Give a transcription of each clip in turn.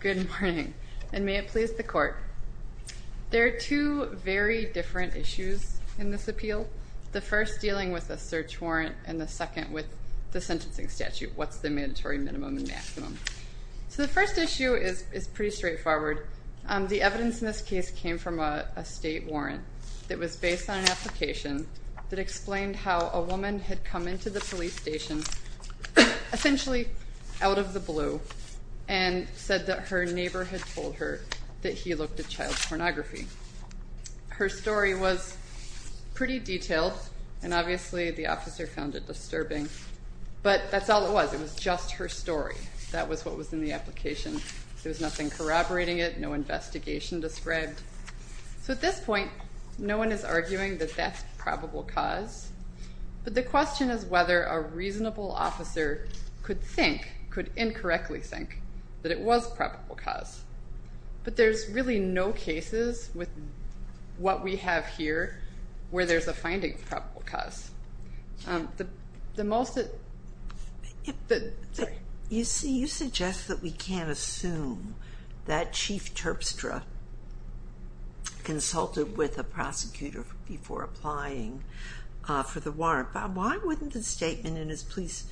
Good morning, and may it please the court. There are two very different issues in this appeal, the first dealing with a search warrant, and the second with the sentencing statute, what's the mandatory minimum and maximum. So the first issue is pretty straightforward. The evidence in this case came from a state warrant that was based on an application that explained how a woman had come into the police station, essentially out of the blue, and said that her neighbor had told her that he looked at child pornography. Her story was pretty detailed, and obviously the officer found it disturbing, but that's all it was. It was just her story. That was what was in the application. There was nothing corroborating it, no investigation described. So at this point, no one is arguing that that's probable cause, but the question is whether a reasonable officer could think, could incorrectly think, that it was probable cause. But there's really no cases with what we have here where there's a finding of probable cause. You see, you suggest that we can't assume that Chief Terpstra consulted with a prosecutor before applying for the warrant. Why wouldn't the statement in his police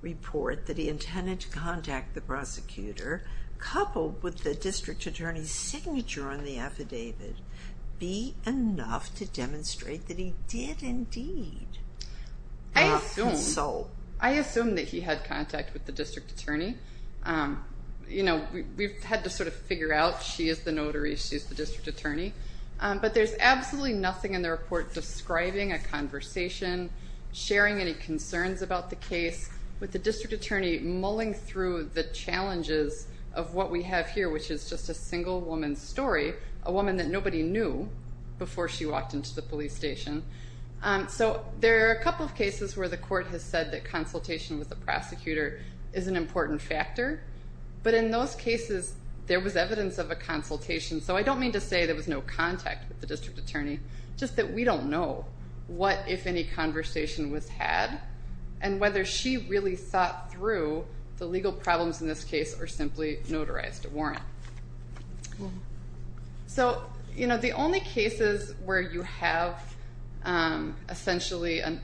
report that he intended to contact the prosecutor, coupled with the district attorney's signature on the affidavit, be enough to demonstrate that he did indeed consult? I assume that he had contact with the district attorney. We've had to sort of figure out, she is the notary, she is the district attorney. But there's absolutely nothing in the report describing a conversation, sharing any concerns about the case, with the district attorney mulling through the challenges of what we have here, which is just a single woman's story, a woman that nobody knew before she walked into the police station. So there are a couple of cases where the court has said that consultation with the prosecutor is an important factor. But in those cases, there was evidence of a consultation. So I don't mean to say there was no contact with the district attorney, just that we don't know what, if any, conversation was had and whether she really thought through the legal problems in this case or simply notarized a warrant. So the only cases where you have essentially an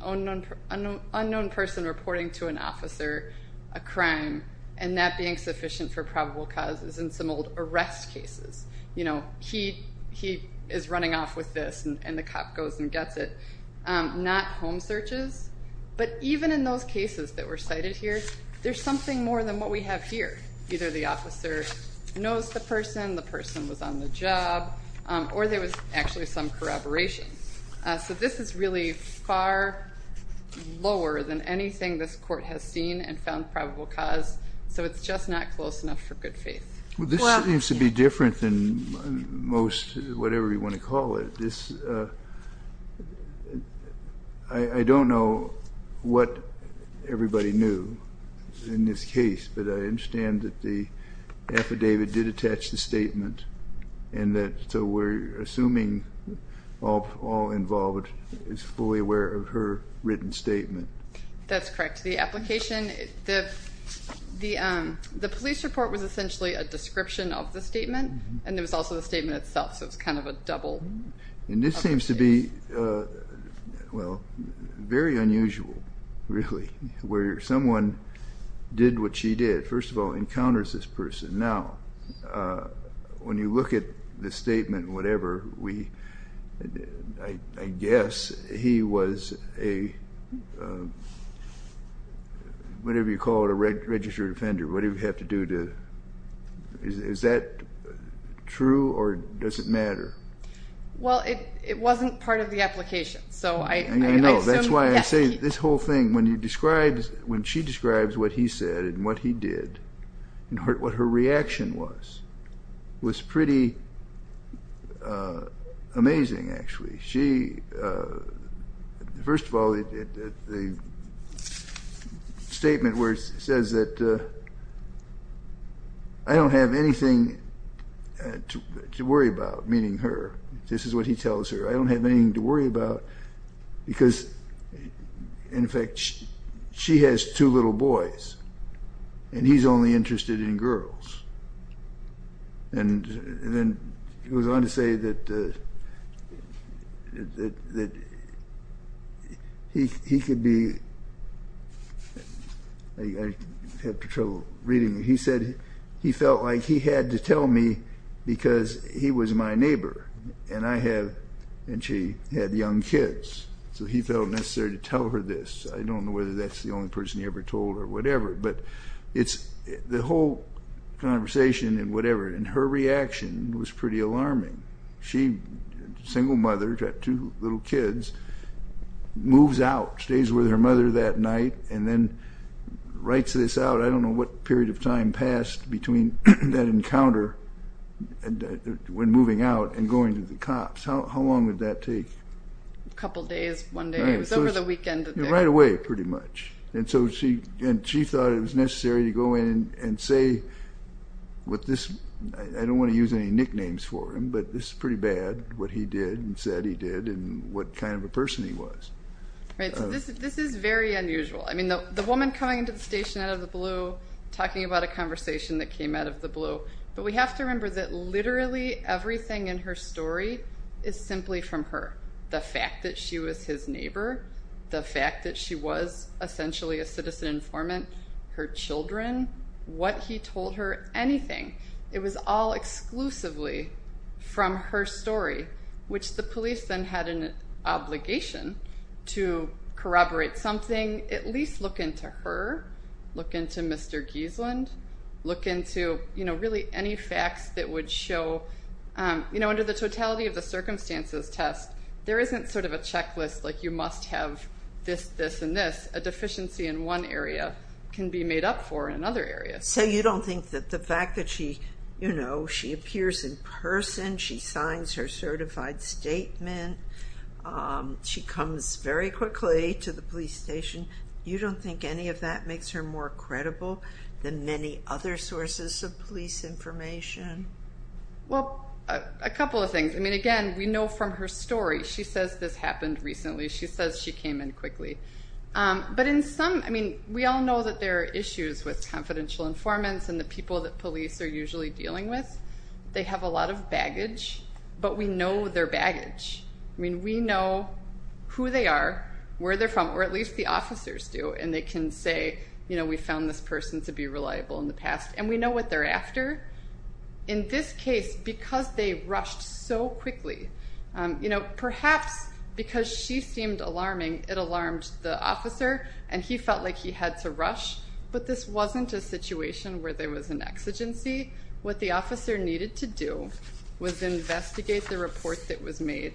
unknown person reporting to an officer a crime and that being sufficient for probable causes, in some old arrest cases, he is running off with this and the cop goes and gets it, not home searches. But even in those cases that were cited here, there's something more than what we have here. Either the officer knows the person, the person was on the job, or there was actually some corroboration. So this is really far lower than anything this court has seen and found probable cause, so it's just not close enough for good faith. Well, this seems to be different than most, whatever you want to call it. I don't know what everybody knew in this case, but I understand that the affidavit did attach the statement and that so we're assuming all involved is fully aware of her written statement. That's correct. The application, the police report was essentially a description of the statement and there was also the statement itself, so it's kind of a double. And this seems to be, well, very unusual, really, where someone did what she did. First of all, encounters this person. Now, when you look at the statement, whatever, I guess he was a, whatever you call it, a registered offender, whatever you have to do to, is that true or does it matter? Well, it wasn't part of the application. I know. That's why I say this whole thing, when she describes what he said and what he did and what her reaction was, was pretty amazing, actually. She, first of all, the statement where it says that I don't have anything to worry about, meaning her. This is what he tells her. I don't have anything to worry about because, in fact, she has two little boys and he's only interested in girls. And then it goes on to say that he could be, I have trouble reading, he said he felt like he had to tell me because he was my neighbor and I have, and she had young kids, so he felt necessary to tell her this. I don't know whether that's the only person he ever told or whatever, but it's, the whole conversation and whatever, and her reaction was pretty alarming. She, single mother, had two little kids, moves out, stays with her mother that night, and then writes this out. I don't know what period of time passed between that encounter when moving out and going to the cops. How long did that take? A couple days, one day. It was over the weekend. Right away, pretty much. And so she thought it was necessary to go in and say what this, I don't want to use any nicknames for him, but this is pretty bad, what he did and said he did and what kind of a person he was. Right, so this is very unusual. I mean, the woman coming into the station out of the blue, talking about a conversation that came out of the blue, but we have to remember that literally everything in her story is simply from her. The fact that she was his neighbor, the fact that she was essentially a citizen informant, her children, what he told her, anything. It was all exclusively from her story, which the police then had an obligation to corroborate something, at least look into her, look into Mr. Gieseland, look into really any facts that would show, under the totality of the circumstances test, there isn't sort of a checklist like you must have this, this, and this. A deficiency in one area can be made up for in another area. So you don't think that the fact that she appears in person, she signs her certified statement, she comes very quickly to the police station, you don't think any of that makes her more credible than many other sources of police information? Well, a couple of things. I mean, again, we know from her story, she says this happened recently, she says she came in quickly. But in some, I mean, we all know that there are issues with confidential informants and the people that police are usually dealing with. They have a lot of baggage, but we know their baggage. I mean, we know who they are, where they're from, or at least the officers do, and they can say, you know, we found this person to be reliable in the past, and we know what they're after. In this case, because they rushed so quickly, you know, perhaps because she seemed alarming, it alarmed the officer, and he felt like he had to rush, but this wasn't a situation where there was an exigency. What the officer needed to do was investigate the report that was made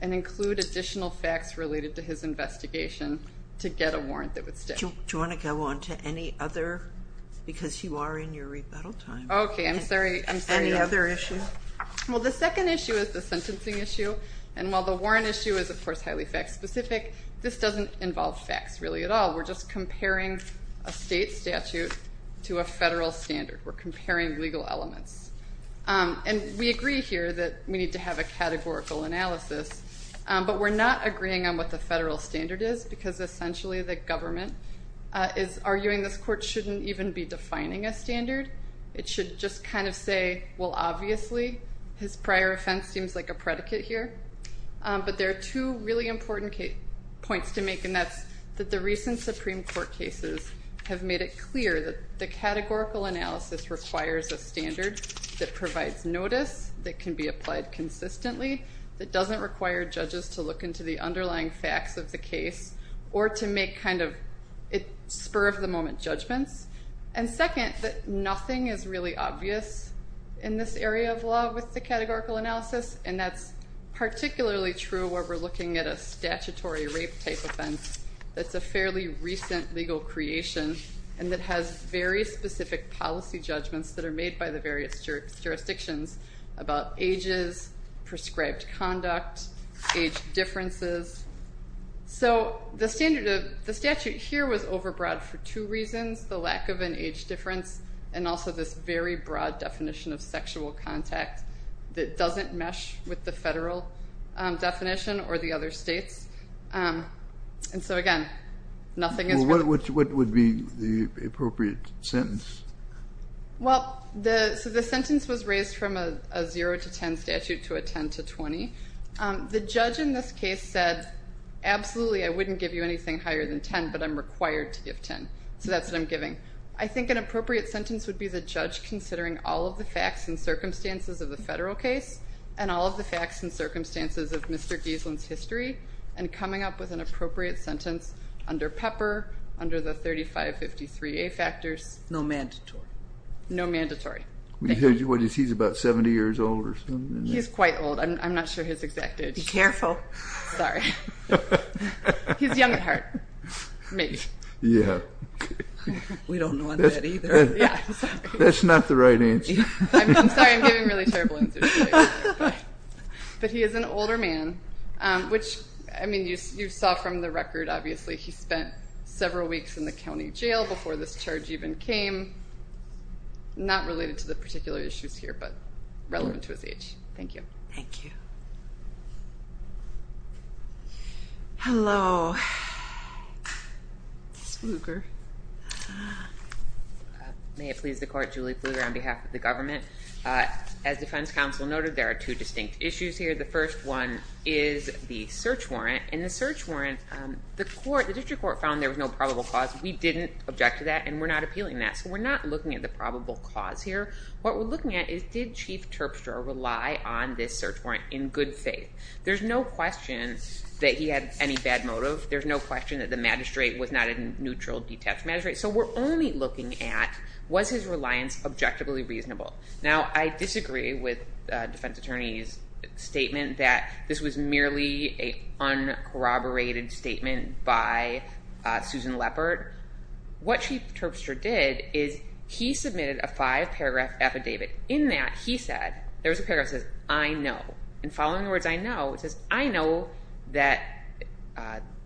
and include additional facts related to his investigation to get a warrant that would stick. Do you want to go on to any other? Because you are in your rebuttal time. Okay, I'm sorry. Any other issues? Well, the second issue is the sentencing issue, and while the warrant issue is, of course, highly fact-specific, this doesn't involve facts, really, at all. We're just comparing a state statute to a federal standard. We're comparing legal elements, and we agree here that we need to have a categorical analysis, but we're not agreeing on what the federal standard is because, essentially, the government is arguing this court shouldn't even be defining a standard. It should just kind of say, well, obviously, his prior offense seems like a predicate here, but there are two really important points to make, and that's that the recent Supreme Court cases have made it clear that the categorical analysis requires a standard that provides notice, that can be applied consistently, that doesn't require judges to look into the underlying facts of the case or to make kind of spur-of-the-moment judgments, and second, that nothing is really obvious in this area of law with the categorical analysis, and that's particularly true where we're looking at a statutory rape-type offense that's a fairly recent legal creation and that has very specific policy judgments that are made by the various jurisdictions about ages, prescribed conduct, age differences. So the statute here was overbroad for two reasons, the lack of an age difference and also this very broad definition of sexual contact that doesn't mesh with the federal definition or the other states, and so, again, nothing is really— Well, what would be the appropriate sentence? Well, so the sentence was raised from a 0 to 10 statute to a 10 to 20. The judge in this case said, absolutely, I wouldn't give you anything higher than 10, but I'm required to give 10, so that's what I'm giving. I think an appropriate sentence would be the judge considering all of the facts and circumstances of the federal case and all of the facts and circumstances of Mr. Gieselin's history and coming up with an appropriate sentence under Pepper, under the 3553A factors. No mandatory? No mandatory. He's about 70 years old or something? He's quite old. I'm not sure his exact age. Be careful. Sorry. He's young at heart, maybe. Yeah. We don't know on that either. That's not the right answer. I'm sorry. I'm giving really terrible answers. But he is an older man, which, I mean, you saw from the record, obviously, he spent several weeks in the county jail before this charge even came. Not related to the particular issues here, but relevant to his age. Thank you. Thank you. Hello. It's Bluger. May it please the court, Julie Bluger on behalf of the government. As defense counsel noted, there are two distinct issues here. The first one is the search warrant. In the search warrant, the district court found there was no probable cause. We didn't object to that, and we're not appealing that. So we're not looking at the probable cause here. What we're looking at is did Chief Terpstra rely on this search warrant in good faith? There's no question that he had any bad motive. There's no question that the magistrate was not a neutral, detached magistrate. So we're only looking at was his reliance objectively reasonable? Now, I disagree with the defense attorney's statement that this was merely an uncorroborated statement by Susan Leppert. What Chief Terpstra did is he submitted a five-paragraph affidavit. In that, he said, there was a paragraph that says, I know. In following words, I know, it says, I know that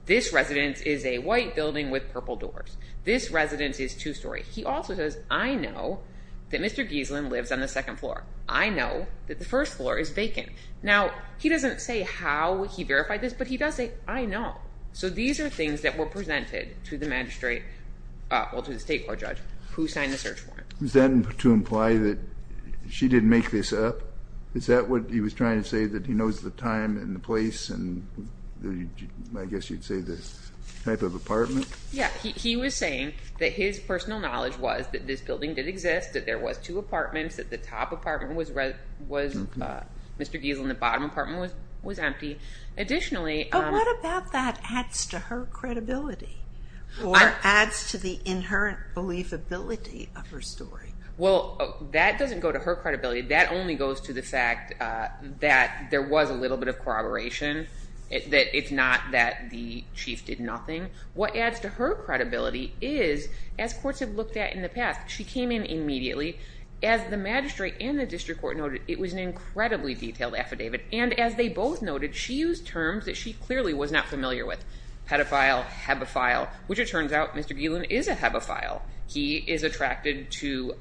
this residence is a white building with purple doors. This residence is two-story. He also says, I know that Mr. Gieselin lives on the second floor. I know that the first floor is vacant. Now, he doesn't say how he verified this, but he does say, I know. So these are things that were presented to the magistrate, well, to the state court judge, who signed the search warrant. Was that to imply that she didn't make this up? Is that what he was trying to say, that he knows the time and the place and I guess you'd say the type of apartment? Yeah. He was saying that his personal knowledge was that this building did exist, that there was two apartments, that the top apartment was Mr. Gieselin. The bottom apartment was empty. But what about that adds to her credibility or adds to the inherent believability of her story? Well, that doesn't go to her credibility. That only goes to the fact that there was a little bit of corroboration, that it's not that the chief did nothing. What adds to her credibility is, as courts have looked at in the past, she came in immediately. As the magistrate and the district court noted, it was an incredibly detailed affidavit. And as they both noted, she used terms that she clearly was not familiar with. Pedophile, hebephile, which it turns out Mr. Gieselin is a hebephile. He is attracted to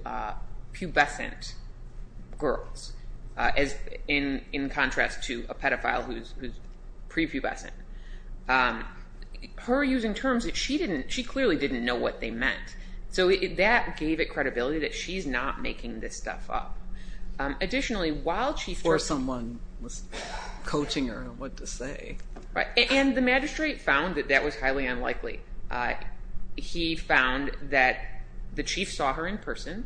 pubescent girls in contrast to a pedophile who's prepubescent. Her using terms that she clearly didn't know what they meant. So that gave it credibility that she's not making this stuff up. Or someone was coaching her on what to say. And the magistrate found that that was highly unlikely. He found that the chief saw her in person.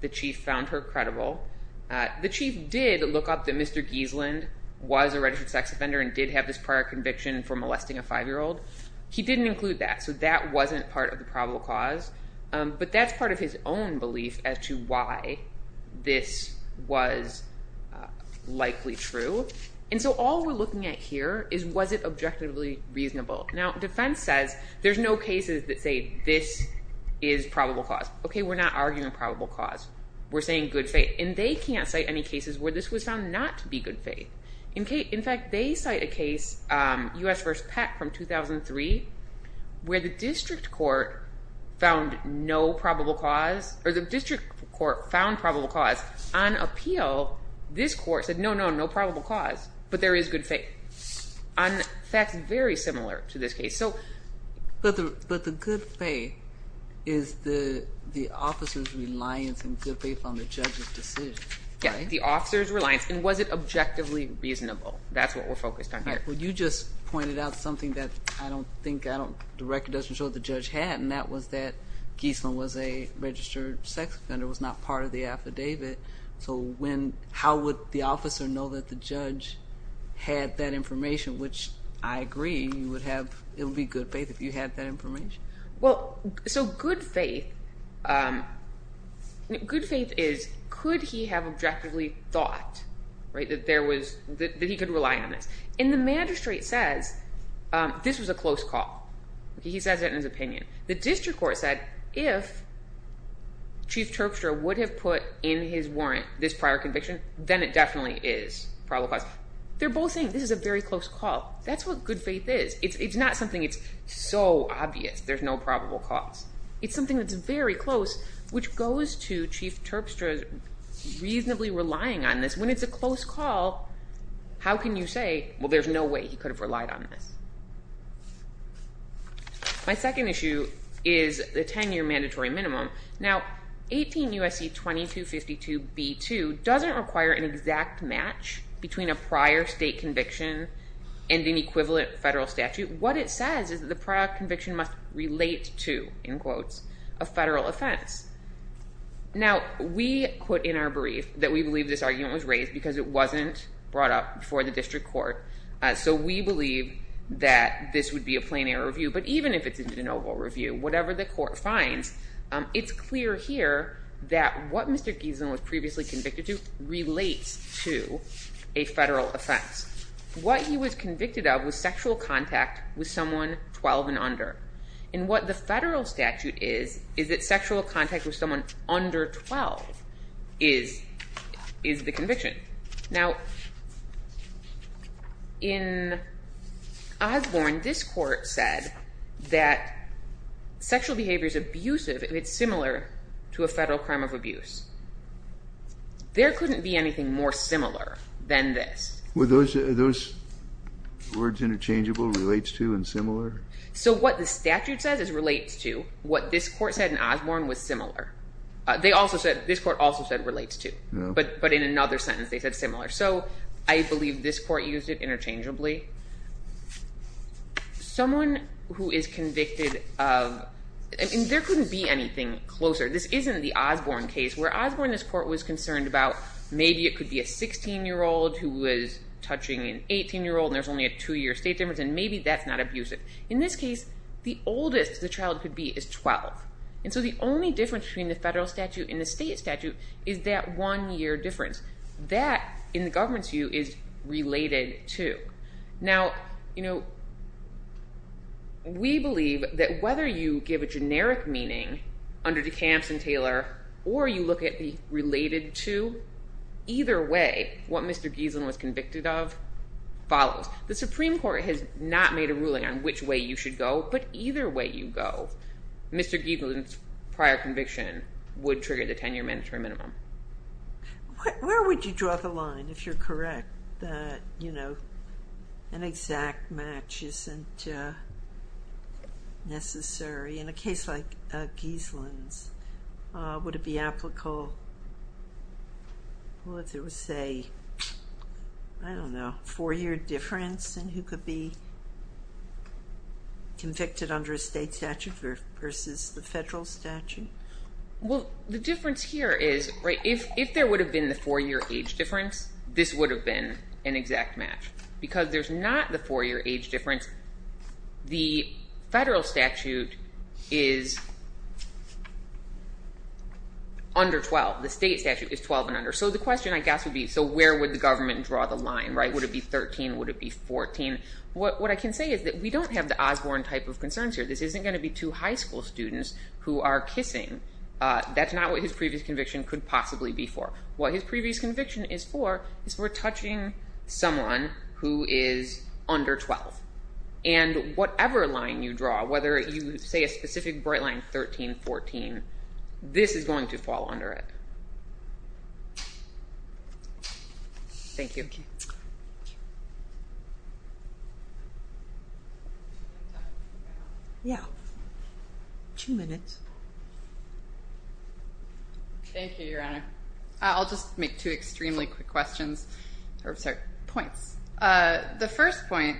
The chief found her credible. The chief did look up that Mr. Gieselin was a registered sex offender and did have this prior conviction for molesting a five-year-old. He didn't include that. So that wasn't part of the probable cause. But that's part of his own belief as to why this was likely true. And so all we're looking at here is was it objectively reasonable. Now, defense says there's no cases that say this is probable cause. Okay, we're not arguing probable cause. We're saying good faith. And they can't cite any cases where this was found not to be good faith. In fact, they cite a case, U.S. v. Peck from 2003, where the district court found no probable cause. Or the district court found probable cause. On appeal, this court said, no, no, no probable cause. But there is good faith. And that's very similar to this case. But the good faith is the officer's reliance and good faith on the judge's decision. Yeah, the officer's reliance. And was it objectively reasonable? That's what we're focused on here. All right, well, you just pointed out something that I don't think, I don't, the record doesn't show the judge had, and that was that Geisler was a registered sex offender, was not part of the affidavit. So when, how would the officer know that the judge had that information, which I agree you would have, it would be good faith if you had that information. Well, so good faith, good faith is could he have objectively thought, right, that there was, that he could rely on this. And the magistrate says this was a close call. He says that in his opinion. The district court said if Chief Terpstra would have put in his warrant this prior conviction, then it definitely is probable cause. They're both saying this is a very close call. That's what good faith is. It's not something that's so obvious there's no probable cause. It's something that's very close, which goes to Chief Terpstra's reasonably relying on this. When it's a close call, how can you say, well, there's no way he could have relied on this? My second issue is the 10-year mandatory minimum. Now, 18 U.S.C. 2252b2 doesn't require an exact match between a prior state conviction and an equivalent federal statute. What it says is the prior conviction must relate to, in quotes, a federal offense. Now, we put in our brief that we believe this argument was raised because it wasn't brought up before the district court. So we believe that this would be a plain error review. But even if it's an Oval Review, whatever the court finds, it's clear here that what Mr. Gieson was previously convicted to relates to a federal offense. What he was convicted of was sexual contact with someone 12 and under. And what the federal statute is, is that sexual contact with someone under 12 is the conviction. Now, in Osborne, this court said that sexual behavior is abusive if it's similar to a federal crime of abuse. There couldn't be anything more similar than this. Were those words interchangeable, relates to, and similar? So what the statute says is relates to. What this court said in Osborne was similar. This court also said relates to. But in another sentence, they said similar. So I believe this court used it interchangeably. Someone who is convicted of – there couldn't be anything closer. This isn't the Osborne case. Where Osborne, this court was concerned about maybe it could be a 16-year-old who was touching an 18-year-old, and there's only a two-year state difference, and maybe that's not abusive. In this case, the oldest the child could be is 12. And so the only difference between the federal statute and the state statute is that one-year difference. That, in the government's view, is related to. Now, we believe that whether you give a generic meaning under DeCamps and Taylor or you look at the related to, either way, what Mr. Gieslin was convicted of follows. The Supreme Court has not made a ruling on which way you should go, but either way you go. Mr. Gieslin's prior conviction would trigger the 10-year mandatory minimum. Where would you draw the line, if you're correct, that an exact match isn't necessary in a case like Gieslin's? Would it be applicable, well, if there was, say, I don't know, a four-year difference in who could be convicted under a state statute versus the federal statute? Well, the difference here is, right, if there would have been the four-year age difference, this would have been an exact match. Because there's not the four-year age difference, the federal statute is under 12. The state statute is 12 and under. So the question, I guess, would be, so where would the government draw the line, right? Would it be 13? Would it be 14? What I can say is that we don't have the Osborne type of concerns here. This isn't going to be two high school students who are kissing. That's not what his previous conviction could possibly be for. What his previous conviction is for is we're touching someone who is under 12. And whatever line you draw, whether you say a specific bright line, 13, 14, this is going to fall under it. Thank you. Yeah. Two minutes. Thank you, Your Honor. I'll just make two extremely quick questions. Or, sorry, points. The first point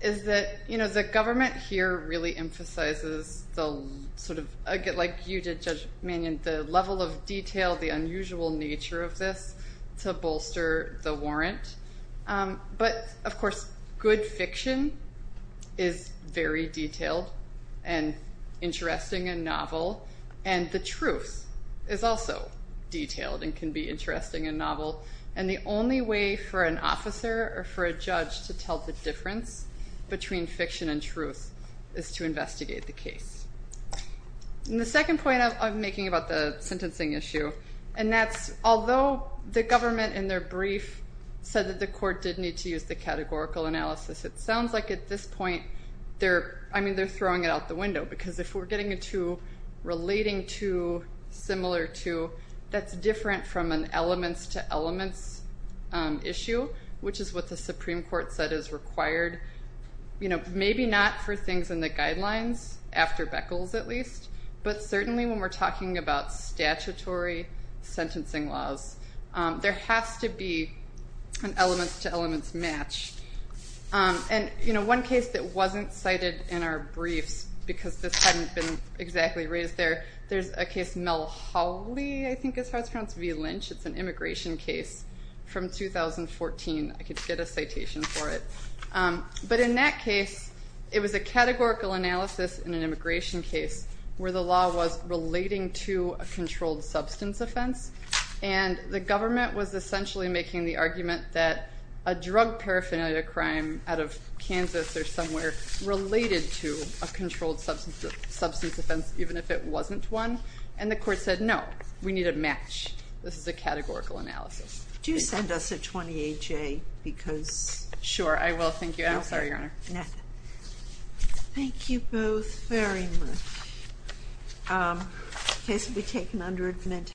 is that, you know, the government here really emphasizes the sort of, like you did, Judge Mannion, the level of detail, the unusual nature of this to bolster the warrant. But, of course, good fiction is very detailed and interesting and novel. And the truth is also detailed and can be interesting and novel. And the only way for an officer or for a judge to tell the difference between fiction and truth is to investigate the case. And the second point I'm making about the sentencing issue, and that's although the government in their brief said that the court did need to use the categorical analysis, it sounds like at this point they're, I mean, they're throwing it out the window. Because if we're getting into relating to similar to, that's different from an elements to elements issue, which is what the Supreme Court said is required. You know, maybe not for things in the guidelines, after Beckles at least, but certainly when we're talking about statutory sentencing laws, there has to be an elements to elements match. And, you know, one case that wasn't cited in our briefs, because this hadn't been exactly raised there, there's a case, Mel Hawley, I think is how it's pronounced, v. Lynch. It's an immigration case from 2014. I could get a citation for it. But in that case, it was a categorical analysis in an immigration case where the law was relating to a controlled substance offense. And the government was essentially making the argument that a drug paraphernalia crime out of Kansas or somewhere related to a controlled substance offense, even if it wasn't one. And the court said, no, we need a match. This is a categorical analysis. Do send us a 28-J, because. Sure, I will. Thank you. I'm sorry, Your Honor. No. Thank you both very much. Okay, so we take an under-admitted.